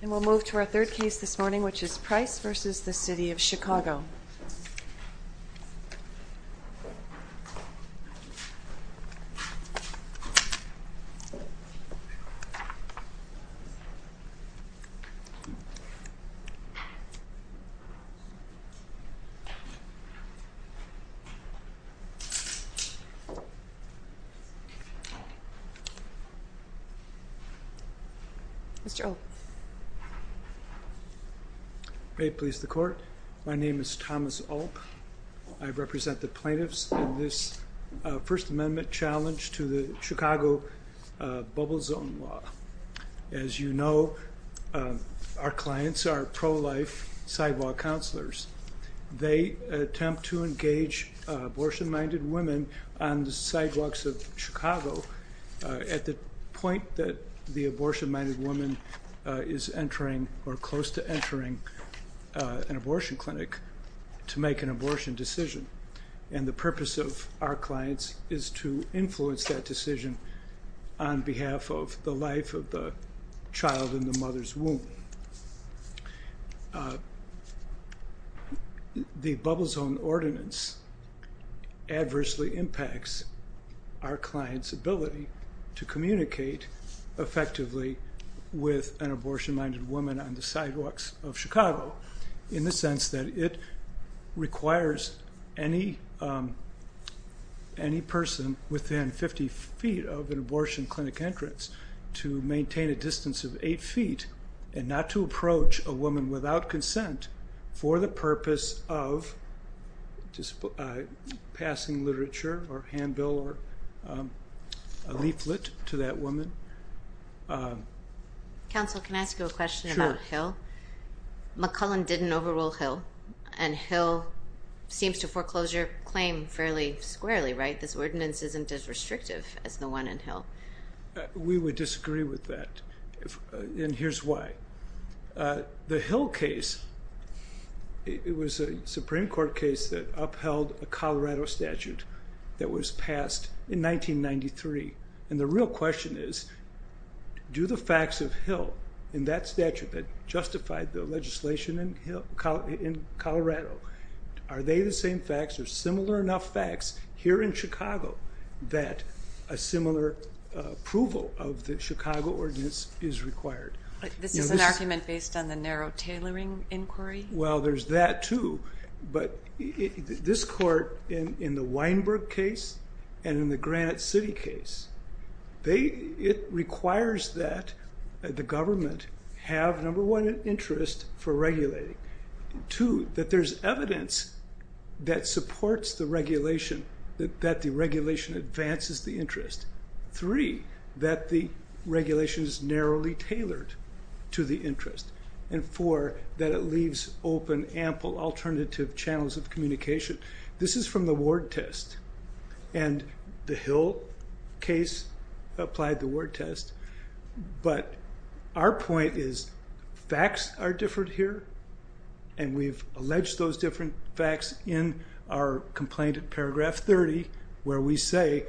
And we'll move to our third case this morning, which is Price versus the City of Chicago. Mr. O. May it please the court. My name is Thomas Alp. I represent the plaintiffs in this First Amendment challenge to the Chicago bubble zone law. As you know, our clients are pro-life sidewalk counselors. They attempt to engage abortion-minded women on the sidewalks of Chicago at the point that the abortion-minded woman is entering or close to entering an abortion clinic to make an abortion decision. And the purpose of our clients is to influence that decision on behalf of the life of the child in the mother's womb. The bubble zone ordinance adversely impacts our client's ability to communicate effectively with an abortion-minded woman on the sidewalks of Chicago in the sense that it requires any person within 50 feet of an abortion clinic entrance to maintain a distance of 8 feet and not to approach a woman without consent for the purpose of passing literature or a handbill or a leaflet to that woman. Counsel, can I ask you a question about Hill? McCullen didn't overrule Hill, and Hill seems to foreclose your claim fairly squarely, right? This ordinance isn't as restrictive as the one in Hill. We would disagree with that. And here's why. The Hill case, it was a Supreme Court case that upheld a Colorado statute that was passed in 1993. And the real question is, do the facts of Hill in that statute that justified the legislation in Colorado, are they the same facts or similar enough facts here in Chicago that a similar approval of the Chicago ordinance is required? This is an argument based on the narrow tailoring inquiry? Well, there's that, too. But this court in the Weinberg case and in the Granite City case, it requires that the government have, number one, an interest for regulating. Two, that there's evidence that supports the regulation, that the regulation advances the interest. Three, that the regulation is narrowly tailored to the interest. And four, that it leaves open, ample, alternative channels of communication. This is from the Ward test. And the Hill case applied the Ward test. But our point is, facts are different here. And we've alleged those different facts in our complaint at paragraph 30, where we say,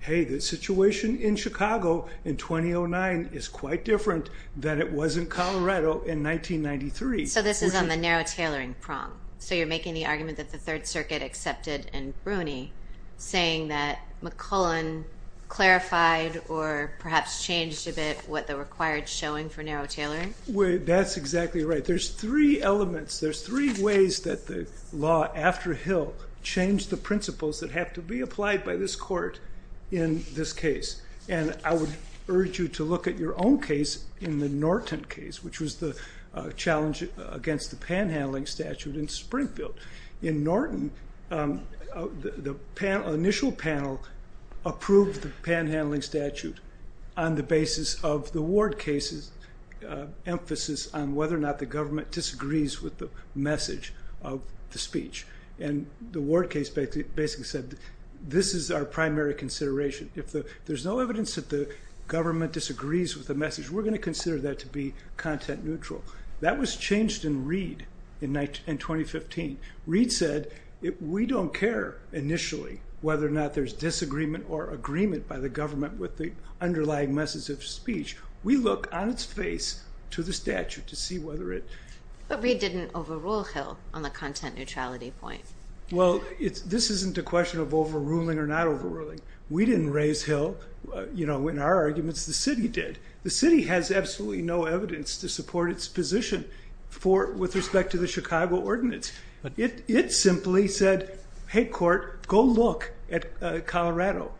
hey, the situation in Chicago in 2009 is quite different than it was in Colorado in 1993. So this is on the narrow tailoring prong. So you're making the argument that the Third Circuit accepted in Rooney, saying that McClellan clarified or perhaps changed a bit what the required showing for narrow tailoring? That's exactly right. There's three elements. There's three ways that the law after Hill changed the principles that have to be applied by this court in this case. And I would urge you to look at your own case in the Norton case, which was the challenge against the panhandling statute in Springfield. In Norton, the initial panel approved the panhandling statute on the basis of the Ward case's emphasis on whether or not the government disagrees with the message of the speech. And the Ward case basically said, this is our primary consideration. If there's no evidence that the government disagrees with the message, we're going to consider that to be content neutral. That was changed in Reed in 2015. Reed said, we don't care initially whether or not there's disagreement or agreement by the government with the underlying message of speech. We look on its face to the statute to see whether it… But Reed didn't overrule Hill on the content neutrality point. Well, this isn't a question of overruling or not overruling. We didn't raise Hill. In our arguments, the city did. The city has absolutely no evidence to support its position with respect to the Chicago ordinance. It simply said, hey, court, go look at Colorado.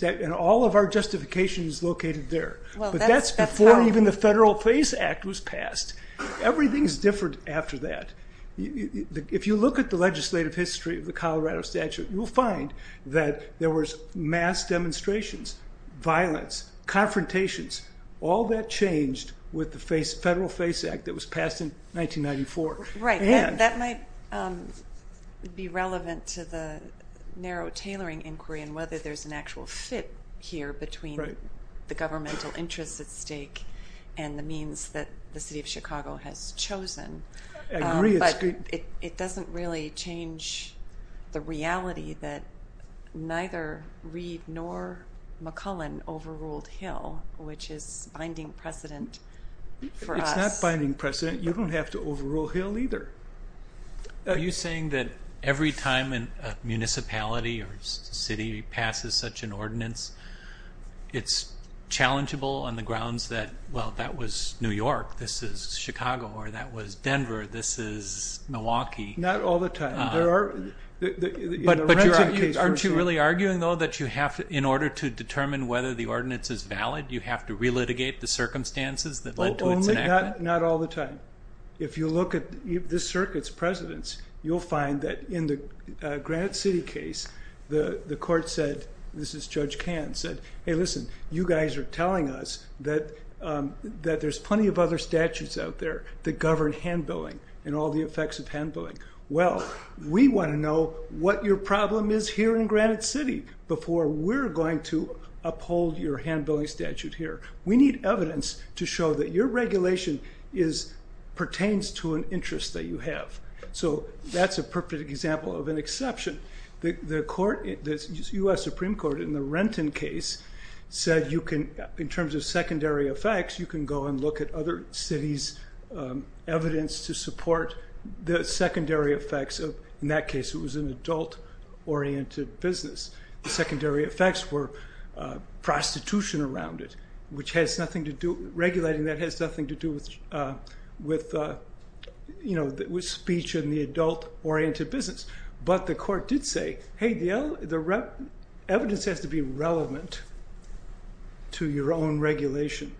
And all of our justification is located there. But that's before even the Federal Place Act was passed. Everything's different after that. If you look at the legislative history of the Colorado statute, you'll find that there was mass demonstrations, violence, confrontations. All that changed with the Federal Face Act that was passed in 1994. Right. That might be relevant to the narrow tailoring inquiry and whether there's an actual fit here between the governmental interests at stake and the means that the city of Chicago has chosen. I agree. But it doesn't really change the reality that neither Reed nor McCullen overruled Hill, which is binding precedent for us. It's not binding precedent. You don't have to overrule Hill either. Are you saying that every time a municipality or city passes such an ordinance, it's challengeable on the grounds that, well, that was New York, this is Chicago, or that was Denver, this is Milwaukee? Not all the time. But aren't you really arguing, though, that in order to determine whether the ordinance is valid, you have to relitigate the circumstances that led to its enactment? Not all the time. If you look at this circuit's precedents, you'll find that in the Granite City case, the court said, this is Judge Kahn, said, hey, listen, you guys are telling us that there's plenty of other statutes out there that govern handbilling and all the effects of handbilling. Well, we want to know what your problem is here in Granite City before we're going to uphold your handbilling statute here. We need evidence to show that your regulation pertains to an interest that you have. So that's a perfect example of an exception. The U.S. Supreme Court, in the Renton case, said you can, in terms of secondary effects, you can go and look at other cities' evidence to support the secondary effects of, in that case, it was an adult-oriented business. The secondary effects were prostitution around it, which has nothing to do, regulating that has nothing to do with speech in the adult-oriented business. But the court did say, hey, the evidence has to be relevant to your own regulation.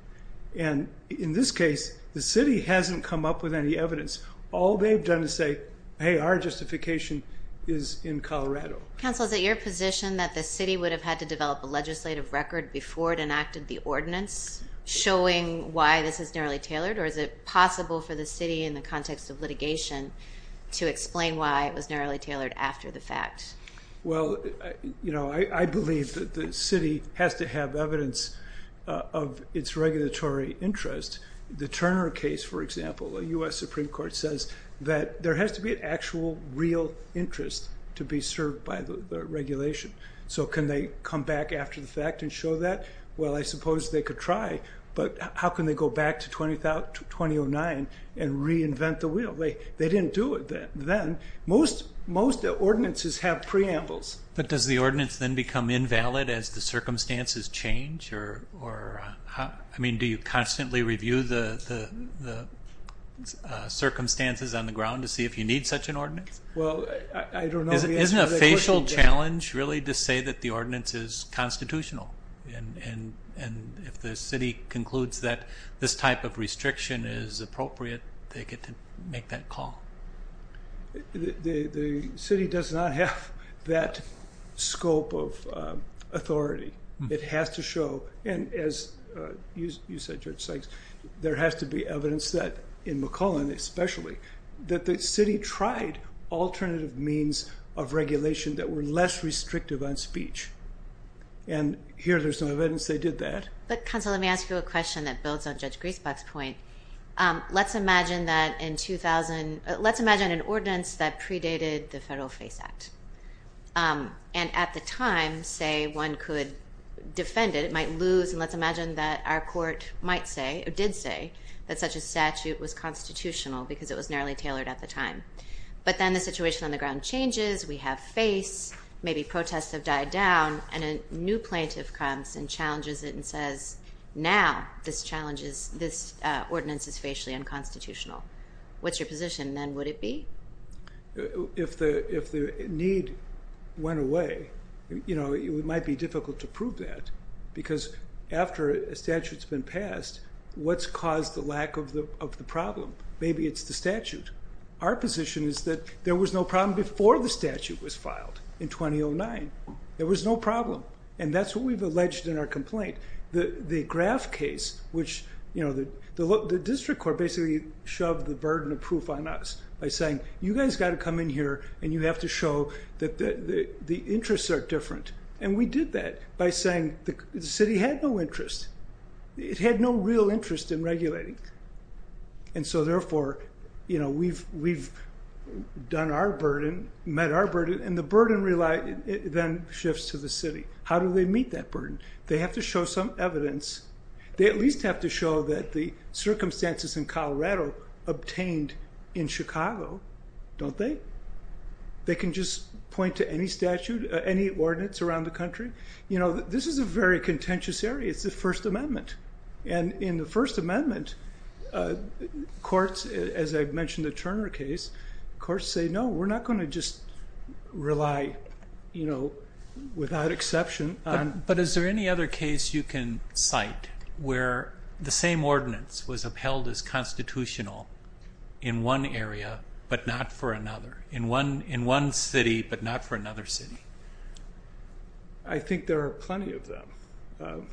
And in this case, the city hasn't come up with any evidence. All they've done is say, hey, our justification is in Colorado. Counsel, is it your position that the city would have had to develop a legislative record before it enacted the ordinance showing why this is narrowly tailored, or is it possible for the city in the context of litigation to explain why it was narrowly tailored after the fact? Well, you know, I believe that the city has to have evidence of its regulatory interest. The Turner case, for example, the U.S. Supreme Court says that there has to be an actual real interest to be served by the regulation. So can they come back after the fact and show that? Well, I suppose they could try, but how can they go back to 2009 and reinvent the wheel? They didn't do it then. Most ordinances have preambles. But does the ordinance then become invalid as the circumstances change? I mean, do you constantly review the circumstances on the ground to see if you need such an ordinance? Isn't a facial challenge really to say that the ordinance is constitutional? And if the city concludes that this type of restriction is appropriate, they get to make that call? The city does not have that scope of authority. It has to show, and as you said, Judge Sykes, there has to be evidence that, in McClellan especially, that the city tried alternative means of regulation that were less restrictive on speech. And here there's no evidence they did that. But, counsel, let me ask you a question that builds on Judge Griesbach's point. Let's imagine that in 2000, let's imagine an ordinance that predated the Federal Face Act. And at the time, say, one could defend it. It might lose, and let's imagine that our court might say, or did say, that such a statute was constitutional because it was narrowly tailored at the time. But then the situation on the ground changes, we have face, maybe protests have died down, and a new plaintiff comes and challenges it and says, now this challenge is, this ordinance is facially unconstitutional. What's your position then? Would it be? If the need went away, it might be difficult to prove that. Because after a statute's been passed, what's caused the lack of the problem? Maybe it's the statute. Our position is that there was no problem before the statute was filed in 2009. There was no problem. And that's what we've alleged in our complaint. The Graff case, which, you know, the district court basically shoved the burden of proof on us by saying, you guys got to come in here and you have to show that the interests are different. And we did that by saying the city had no interest. It had no real interest in regulating. And so therefore, you know, we've done our burden, met our burden, and the burden then shifts to the city. How do they meet that burden? They have to show some evidence. They at least have to show that the circumstances in Colorado obtained in Chicago, don't they? They can just point to any statute, any ordinance around the country. You know, this is a very contentious area. It's the First Amendment. And in the First Amendment, courts, as I mentioned the Turner case, courts say, no, we're not going to just rely, you know, without exception. But is there any other case you can cite where the same ordinance was upheld as constitutional in one area but not for another, in one city but not for another city? I think there are plenty of them.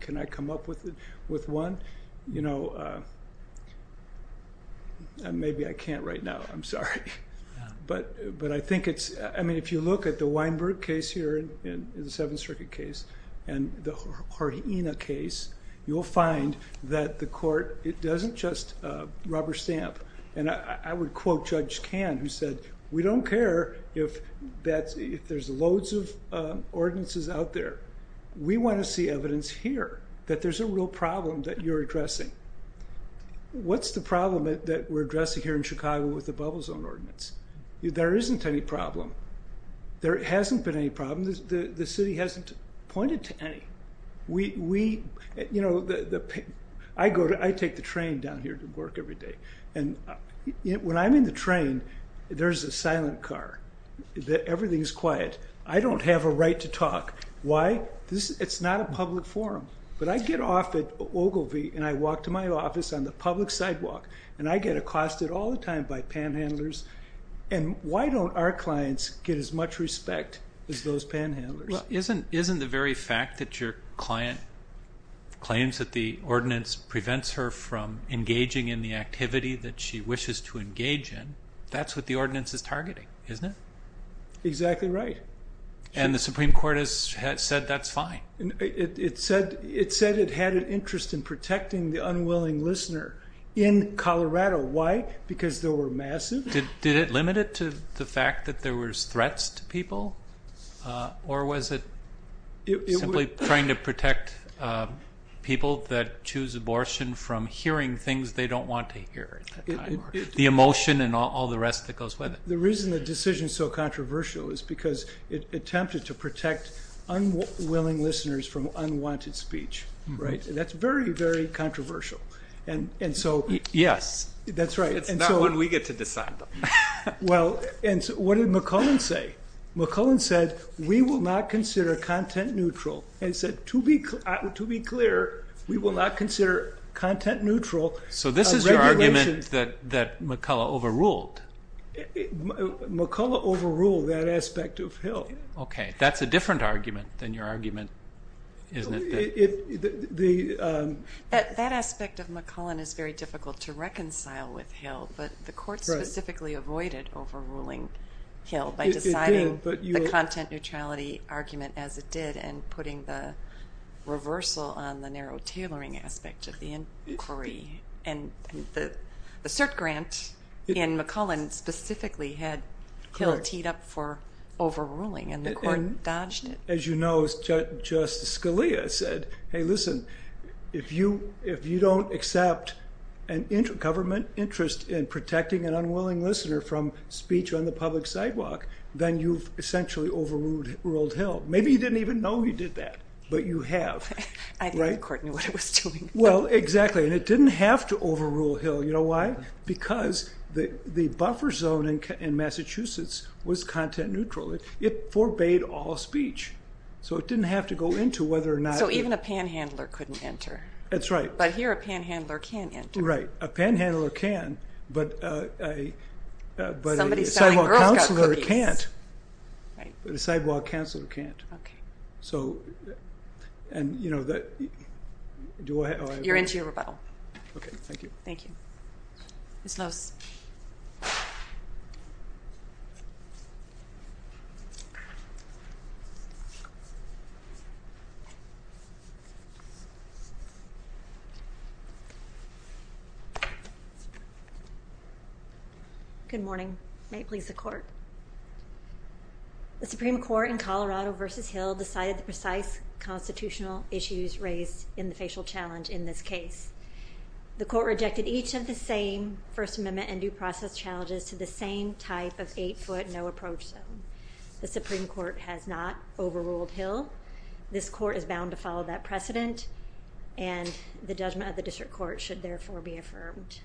Can I come up with one? You know, maybe I can't right now. I'm sorry. But I think it's, I mean, if you look at the Weinberg case here in the Seventh Circuit case and the Jorgeina case, you'll find that the court, it doesn't just rubber stamp. And I would quote Judge Kahn who said, we don't care if there's loads of ordinances out there. We want to see evidence here that there's a real problem that you're addressing. What's the problem that we're addressing here in Chicago with the Bubble Zone Ordinance? There isn't any problem. There hasn't been any problem. The city hasn't pointed to any. We, you know, I take the train down here to work every day. And when I'm in the train, there's a silent car. Everything is quiet. I don't have a right to talk. Why? It's not a public forum. But I get off at Ogilvie and I walk to my office on the public sidewalk, and I get accosted all the time by panhandlers. And why don't our clients get as much respect as those panhandlers? Isn't the very fact that your client claims that the ordinance prevents her from engaging in the activity that she wishes to engage in, that's what the ordinance is targeting, isn't it? Exactly right. And the Supreme Court has said that's fine. It said it had an interest in protecting the unwilling listener in Colorado. Why? Because they were massive. Did it limit it to the fact that there was threats to people? Or was it simply trying to protect people that choose abortion from hearing things they don't want to hear? The emotion and all the rest that goes with it. The reason the decision is so controversial is because it attempted to protect unwilling listeners from unwanted speech. Right? That's very, very controversial. Yes. That's right. It's not one we get to decide, though. Well, what did McCullen say? McCullen said, we will not consider content neutral. He said, to be clear, we will not consider content neutral. So this is your argument that McCullen overruled. McCullen overruled that aspect of Hill. Okay. That's a different argument than your argument, isn't it? That aspect of McCullen is very difficult to reconcile with Hill. But the court specifically avoided overruling Hill by deciding the content neutrality argument as it did and putting the reversal on the narrow tailoring aspect of the inquiry. And the cert grant in McCullen specifically had Hill teed up for overruling, and the court dodged it. As you know, Justice Scalia said, hey, listen, if you don't accept a government interest in protecting an unwilling listener from speech on the public sidewalk, then you've essentially overruled Hill. Maybe you didn't even know he did that, but you have. I didn't record what he was doing. Well, exactly. And it didn't have to overrule Hill. You know why? Because the buffer zone in Massachusetts was content neutral. It forbade all speech. So it didn't have to go into whether or not... So even a panhandler couldn't enter. That's right. But here a panhandler can enter. Right. A panhandler can, but a... Somebody selling Girl Scout cookies. But a sidewalk counselor can't. Right. But a sidewalk counselor can't. Okay. So, and, you know, the... You're into your rebuttal. Okay. Thank you. Thank you. Ms. Lose. Ms. Lose. Good morning. May it please the Court. The Supreme Court in Colorado v. Hill decided the precise constitutional issues raised in the facial challenge in this case. The Court rejected each of the same First Amendment and due process challenges to the same type of eight-foot no-approach zone. The Supreme Court has not overruled Hill. This Court is bound to follow that precedent, and the judgment of the District Court should therefore be affirmed.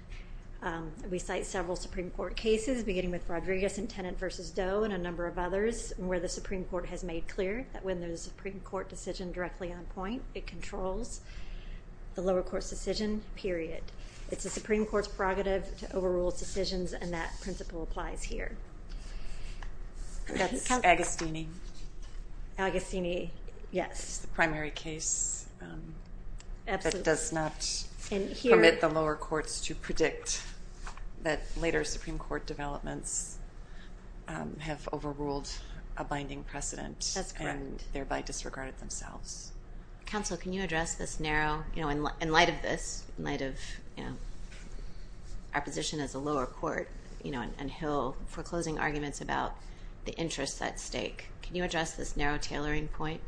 We cite several Supreme Court cases, beginning with Rodriguez and Tennant v. Doe and a number of others, where the Supreme Court has made clear that when there's a Supreme Court decision directly on point, it controls the lower court's decision, period. It's the Supreme Court's prerogative to overrule decisions, and that principle applies here. That's Agostini. Agostini, yes. It's the primary case that does not permit the lower courts to predict that later Supreme Court developments have overruled a binding precedent. That's correct. And thereby disregarded themselves. Counsel, can you address this narrow, you know, in light of this, in light of our position as a lower court, you know, and Hill, foreclosing arguments about the interests at stake. Can you address this narrow tailoring point?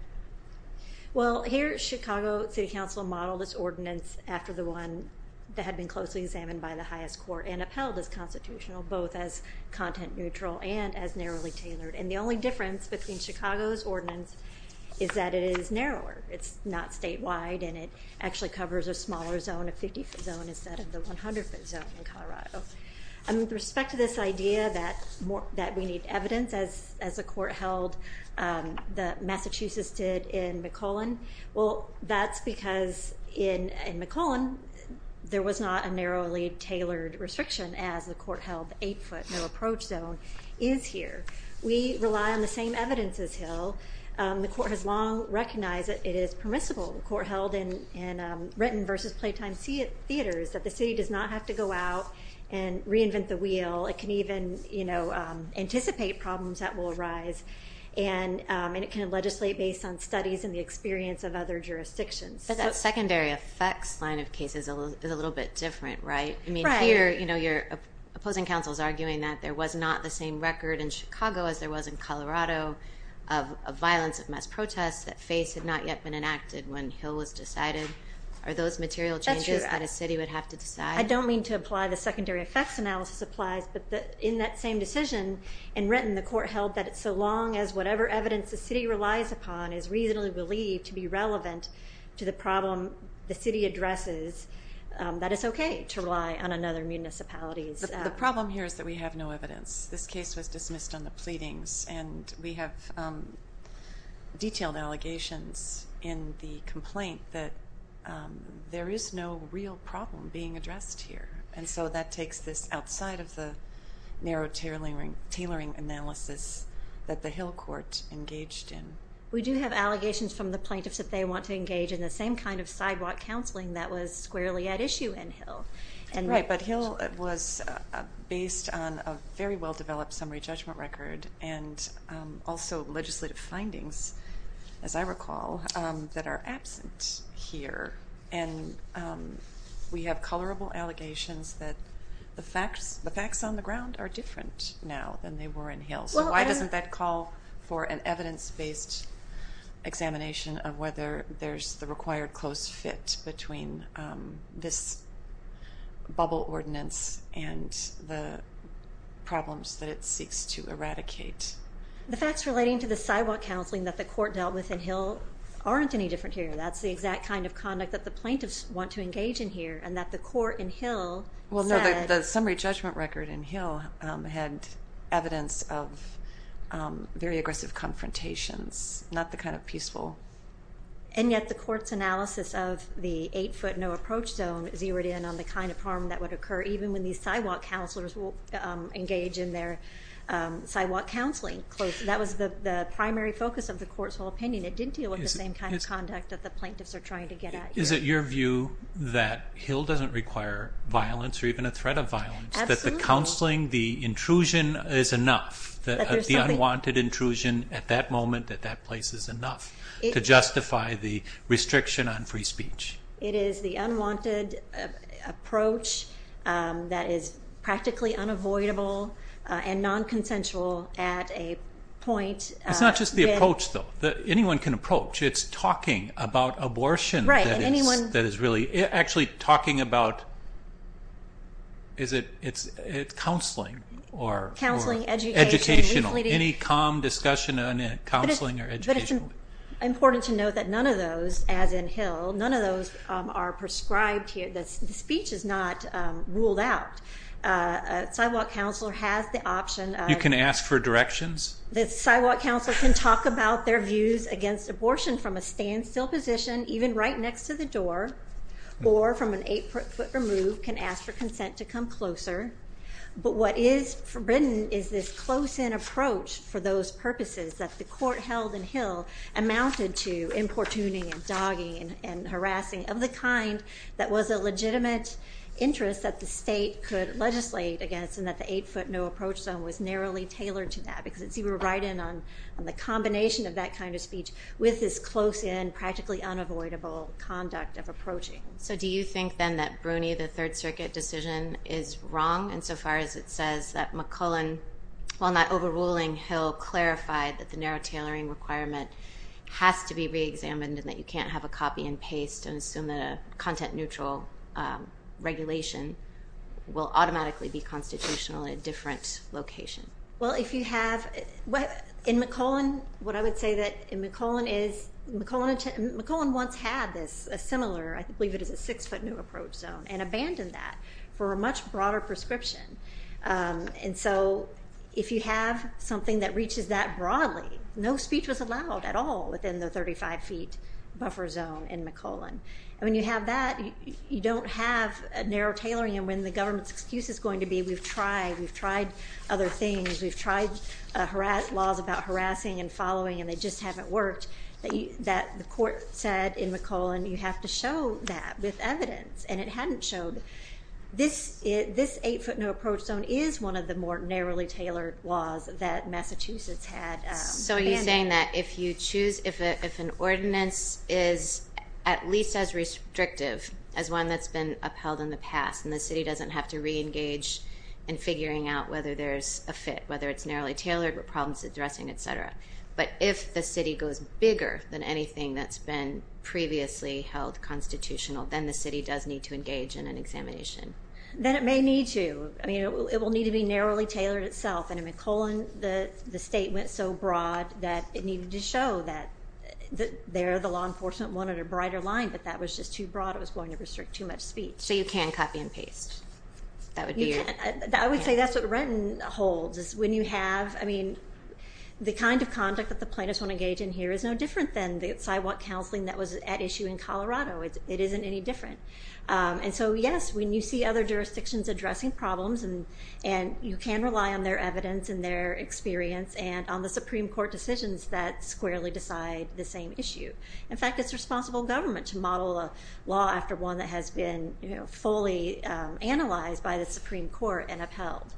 Well, here Chicago City Council modeled its ordinance after the one that had been closely examined by the highest court and upheld as constitutional, both as content neutral and as narrowly tailored. It's not statewide, and it actually covers a smaller zone, a 50-foot zone instead of the 100-foot zone in Colorado. With respect to this idea that we need evidence, as the court held that Massachusetts did in McClellan, well, that's because in McClellan there was not a narrowly tailored restriction as the court held the 8-foot no approach zone is here. We rely on the same evidence as Hill. The court has long recognized that it is permissible, the court held in Renton versus Playtime Theaters, that the city does not have to go out and reinvent the wheel. It can even, you know, anticipate problems that will arise, and it can legislate based on studies and the experience of other jurisdictions. But that secondary effects line of cases is a little bit different, right? Right. I mean, here, you know, you're opposing counsels arguing that there was not the same record in the case of violence of mass protests that FASE had not yet been enacted when Hill was decided. Are those material changes that a city would have to decide? I don't mean to apply the secondary effects analysis applies, but in that same decision in Renton, the court held that so long as whatever evidence the city relies upon is reasonably believed to be relevant to the problem the city addresses, that it's okay to rely on another municipality's. The problem here is that we have no evidence. This case was dismissed on the pleadings, and we have detailed allegations in the complaint that there is no real problem being addressed here. And so that takes this outside of the narrow tailoring analysis that the Hill court engaged in. We do have allegations from the plaintiffs that they want to engage in the same kind of sidewalk counseling that was squarely at issue in Hill. Right. But Hill was based on a very well-developed summary judgment record, and also legislative findings, as I recall, that are absent here. And we have colorable allegations that the facts on the ground are different now than they were in Hill. So why doesn't that call for an evidence-based examination of whether there's the required close fit between this bubble ordinance and the problems that it seeks to eradicate? The facts relating to the sidewalk counseling that the court dealt with in Hill aren't any different here. That's the exact kind of conduct that the plaintiffs want to engage in here and that the court in Hill said. Well, no, the summary judgment record in Hill had evidence of very aggressive confrontations, not the kind of peaceful. And yet the court's analysis of the 8-foot no approach zone zeroed in on the kind of harm that would occur even when these sidewalk counselors engage in their sidewalk counseling. That was the primary focus of the court's whole opinion. It didn't deal with the same kind of conduct that the plaintiffs are trying to get at here. Is it your view that Hill doesn't require violence or even a threat of violence, that the counseling, the intrusion is enough, the unwanted intrusion at that moment, at that place is enough to justify the restriction on free speech? It is the unwanted approach that is practically unavoidable and non-consensual at a point. It's not just the approach, though, that anyone can approach. It's talking about abortion that is really actually talking about counseling. Counseling, education. Educational. Any calm discussion on counseling or education. But it's important to note that none of those, as in Hill, none of those are prescribed here. The speech is not ruled out. A sidewalk counselor has the option. You can ask for directions? The sidewalk counselor can talk about their views against abortion from a standstill position, even right next to the door, or from an 8-foot remove, can ask for consent to come closer. But what is forbidden is this close-in approach for those purposes that the court held in Hill amounted to importuning and dogging and harassing of the kind that was a legitimate interest that the state could legislate against and that the 8-foot no approach zone was narrowly tailored to that. Because you were right in on the combination of that kind of speech with this close-in, practically unavoidable conduct of approaching. So do you think, then, that Bruni, the Third Circuit decision, is wrong insofar as it says that McClellan, while not overruling Hill, clarified that the narrow tailoring requirement has to be reexamined and that you can't have a copy and paste and assume that a content-neutral regulation will automatically be constitutional in a different location? Well, if you have... In McClellan, what I would say that in McClellan is... McClellan once had this similar, I believe it is a 6-foot no approach zone, and abandoned that for a much broader prescription. And so if you have something that reaches that broadly, no speech was allowed at all within the 35-feet buffer zone in McClellan. And when you have that, you don't have a narrow tailoring. And when the government's excuse is going to be, we've tried other things, we've tried laws about harassing and following, and they just haven't worked, that the court said in McClellan, you have to show that with evidence. And it hadn't showed. This 8-foot no approach zone is one of the more narrowly tailored laws that Massachusetts had abandoned. So are you saying that if an ordinance is at least as restrictive as one that's been upheld in the past, and the city doesn't have to reengage in figuring out whether there's a fit, whether it's narrowly tailored, what problem it's addressing, et cetera, but if the city goes bigger than anything that's been previously held constitutional, then the city does need to engage in an examination? Then it may need to. It will need to be narrowly tailored itself. And in McClellan, the state went so broad that it needed to show that there the law enforcement wanted a brighter line, but that was just too broad. It was going to restrict too much speech. So you can copy and paste? I would say that's what Renton holds, is when you have, I mean, the kind of conduct that the plaintiffs want to engage in here is no different than the sidewalk counseling that was at issue in Colorado. It isn't any different. And so, yes, when you see other jurisdictions addressing problems, and you can rely on their evidence and their experience and on the Supreme Court decisions that squarely decide the same issue. In fact, it's responsible government to model a law after one that has been fully analyzed by the Supreme Court and upheld.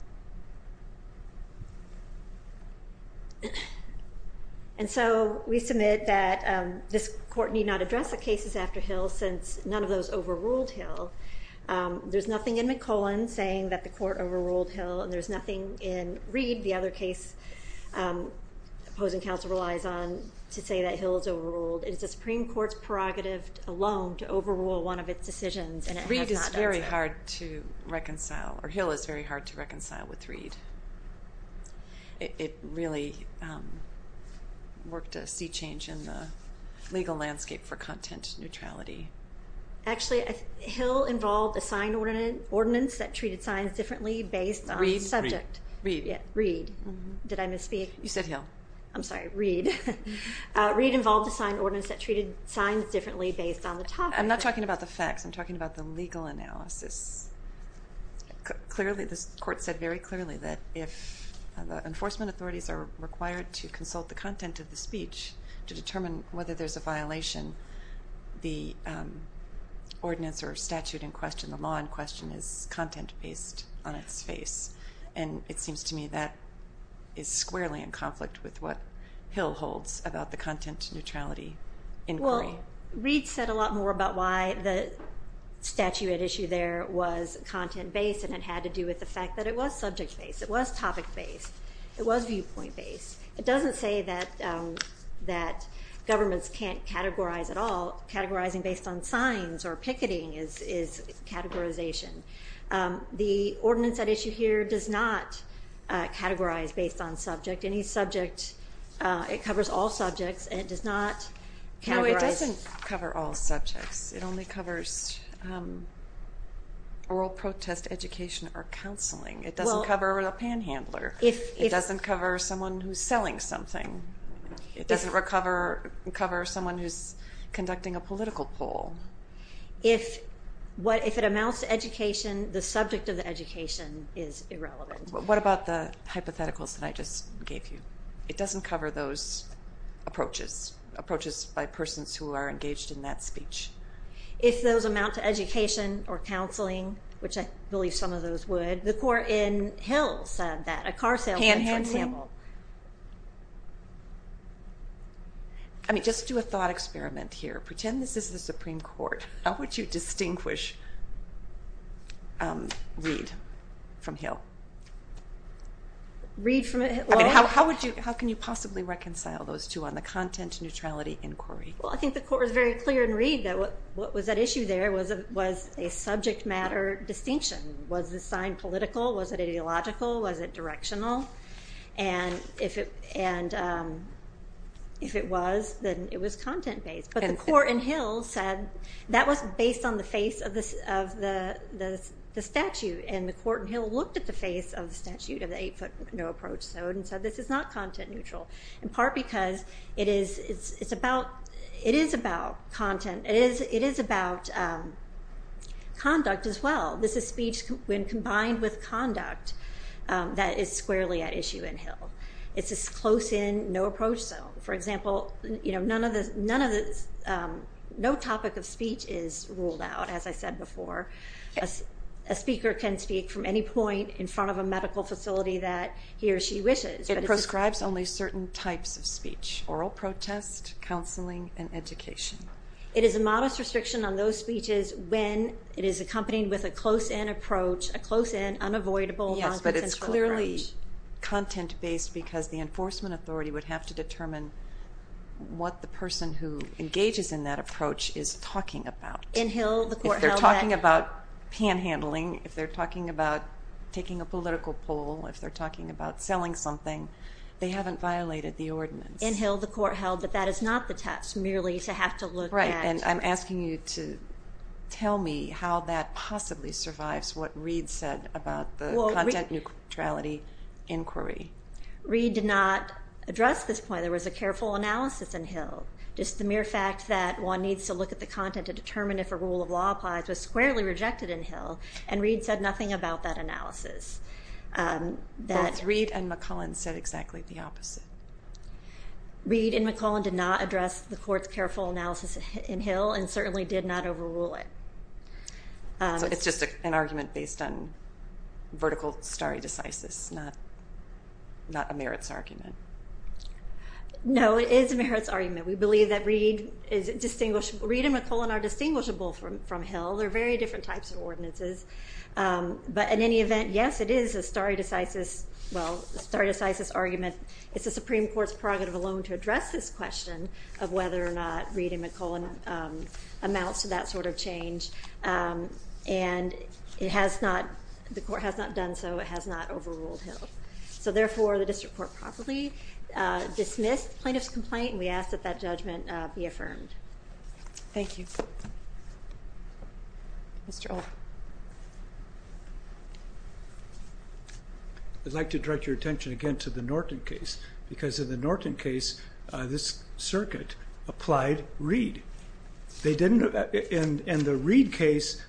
And so we submit that this court need not address the cases after Hill since none of those overruled Hill. There's nothing in McClellan saying that the court overruled Hill, and there's nothing in Reed, the other case opposing counsel relies on, to say that Hill is overruled. It is the Supreme Court's prerogative alone to overrule one of its decisions. Reed is very hard to reconcile, or Hill is very hard to reconcile with Reed. It really worked a sea change in the legal landscape for content neutrality. Actually, Hill involved a signed ordinance that treated signs differently based on the subject. Reed. Reed. Reed. Did I misspeak? You said Hill. I'm sorry, Reed. Reed involved a signed ordinance that treated signs differently based on the topic. I'm not talking about the facts. I'm talking about the legal analysis. Clearly, this court said very clearly that if the enforcement authorities are required to consult the content of the speech to determine whether there's a ordinance or statute in question, the law in question is content-based on its face. And it seems to me that is squarely in conflict with what Hill holds about the content neutrality inquiry. Well, Reed said a lot more about why the statute at issue there was content-based, and it had to do with the fact that it was subject-based. It was topic-based. It was viewpoint-based. It doesn't say that governments can't categorize at all, categorizing based on signs or picketing is categorization. The ordinance at issue here does not categorize based on subject. Any subject, it covers all subjects, and it does not categorize. No, it doesn't cover all subjects. It only covers oral protest education or counseling. It doesn't cover a panhandler. It doesn't cover someone who's selling something. It doesn't cover someone who's conducting a political poll. If it amounts to education, the subject of the education is irrelevant. What about the hypotheticals that I just gave you? It doesn't cover those approaches, approaches by persons who are engaged in that speech. If those amount to education or counseling, which I believe some of those would, the court in Hill said that. A car salesman, for example. Panhandling? I mean, just do a thought experiment here. Pretend this is the Supreme Court. How would you distinguish Reed from Hill? Reed from Hill? How can you possibly reconcile those two on the content neutrality inquiry? Well, I think the court was very clear in Reed that what was at issue there was a subject matter distinction. Was the sign political? Was it ideological? Was it directional? And if it was, then it was content-based. But the court in Hill said that was based on the face of the statute, and the court in Hill looked at the face of the statute of the eight-foot no approach and said this is not content neutral, in part because it is about content. It is about conduct as well. This is speech when combined with conduct that is squarely at issue in Hill. It's a close in no approach zone. For example, no topic of speech is ruled out, as I said before. A speaker can speak from any point in front of a medical facility that he or she wishes. It prescribes only certain types of speech, oral protest, counseling, and education. It is a modest restriction on those speeches when it is accompanied with a close in approach, a close in unavoidable non-contentual approach. Yes, but it's clearly content-based because the enforcement authority would have to determine what the person who engages in that approach is talking about. In Hill, the court held that. If they're talking about panhandling, if they're talking about taking a political poll, if they're talking about selling something, they haven't violated the ordinance. merely to have to look at. Right, and I'm asking you to tell me how that possibly survives what Reed said about the content neutrality inquiry. Reed did not address this point. There was a careful analysis in Hill. Just the mere fact that one needs to look at the content to determine if a rule of law applies was squarely rejected in Hill, and Reed said nothing about that analysis. Both Reed and McClellan said exactly the opposite. Reed and McClellan did not address the court's careful analysis in Hill and certainly did not overrule it. So it's just an argument based on vertical stare decisis, not a merits argument. No, it is a merits argument. We believe that Reed and McClellan are distinguishable from Hill. They're very different types of ordinances. But in any event, yes, it is a stare decisis argument. It's the Supreme Court's prerogative alone to address this question of whether or not Reed and McClellan amounts to that sort of change. And it has not, the court has not done so. It has not overruled Hill. So therefore, the district court properly dismissed the plaintiff's complaint and we ask that that judgment be affirmed. Thank you. Mr. Ohl. I'd like to direct your attention again to the Norton case because in the Norton case, this circuit applied Reed. And the Reed case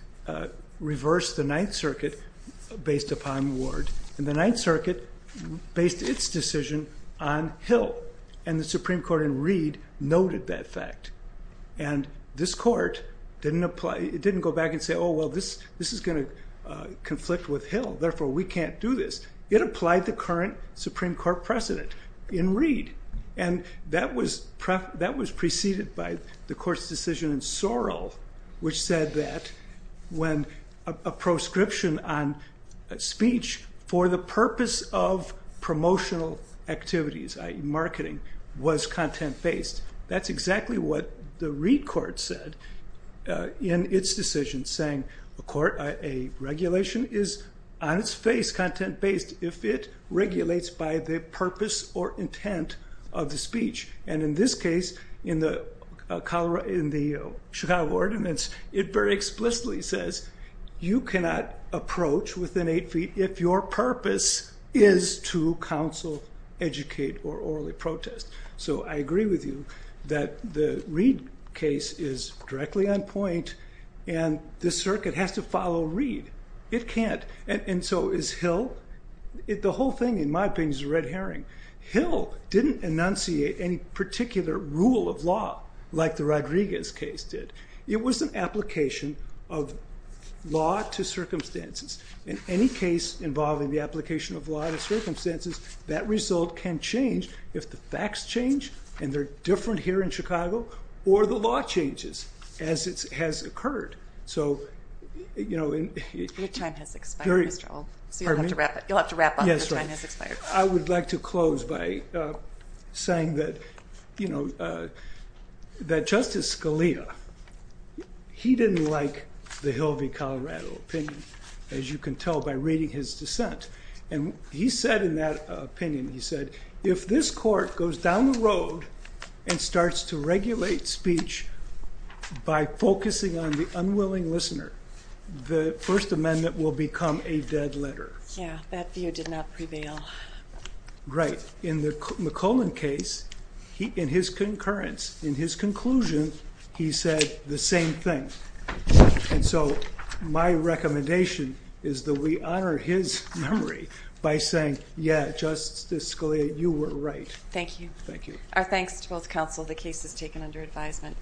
reversed the Ninth Circuit based upon Ward. And the Ninth Circuit based its decision on Hill. And the Supreme Court in Reed noted that fact. And this court didn't go back and say, oh, well, this is going to conflict with Hill. Therefore, we can't do this. It applied the current Supreme Court precedent in Reed. And that was preceded by the court's decision in Sorrell, which said that when a proscription on speech for the purpose of promotional activities, i.e. marketing, was content-based, that's exactly what the Reed court said in its decision, saying a court, a regulation is on its face content-based if it regulates by the purpose or intent of the speech. And in this case, in the Chicago ordinance, it very explicitly says you cannot approach within eight feet if your purpose is to counsel, educate, or orally protest. So I agree with you that the Reed case is directly on point. And the circuit has to follow Reed. It can't. And so is Hill? The whole thing, in my opinion, is a red herring. Hill didn't enunciate any particular rule of law, like the Rodriguez case did. It was an application of law to circumstances. In any case involving the application of law to circumstances, that result can change if the facts change, and they're different here in Chicago, or the law changes as it has occurred. So, you know, Your time has expired. So you'll have to wrap up. I would like to close by saying that, you know, that Justice Scalia, he didn't like the Hill v. Colorado opinion, as you can tell by reading his dissent. And he said in that opinion, he said, if this court goes down the road and starts to regulate speech by focusing on the unwilling listener, the first amendment will become a dead letter. Yeah. That view did not prevail. Right. In the McClellan case, in his concurrence, in his conclusion, he said the same thing. And so my recommendation is that we honor his memory by saying, yeah, Justice Scalia, you were right. Thank you. Thank you. Our thanks to both counsel. The case is taken under advisement.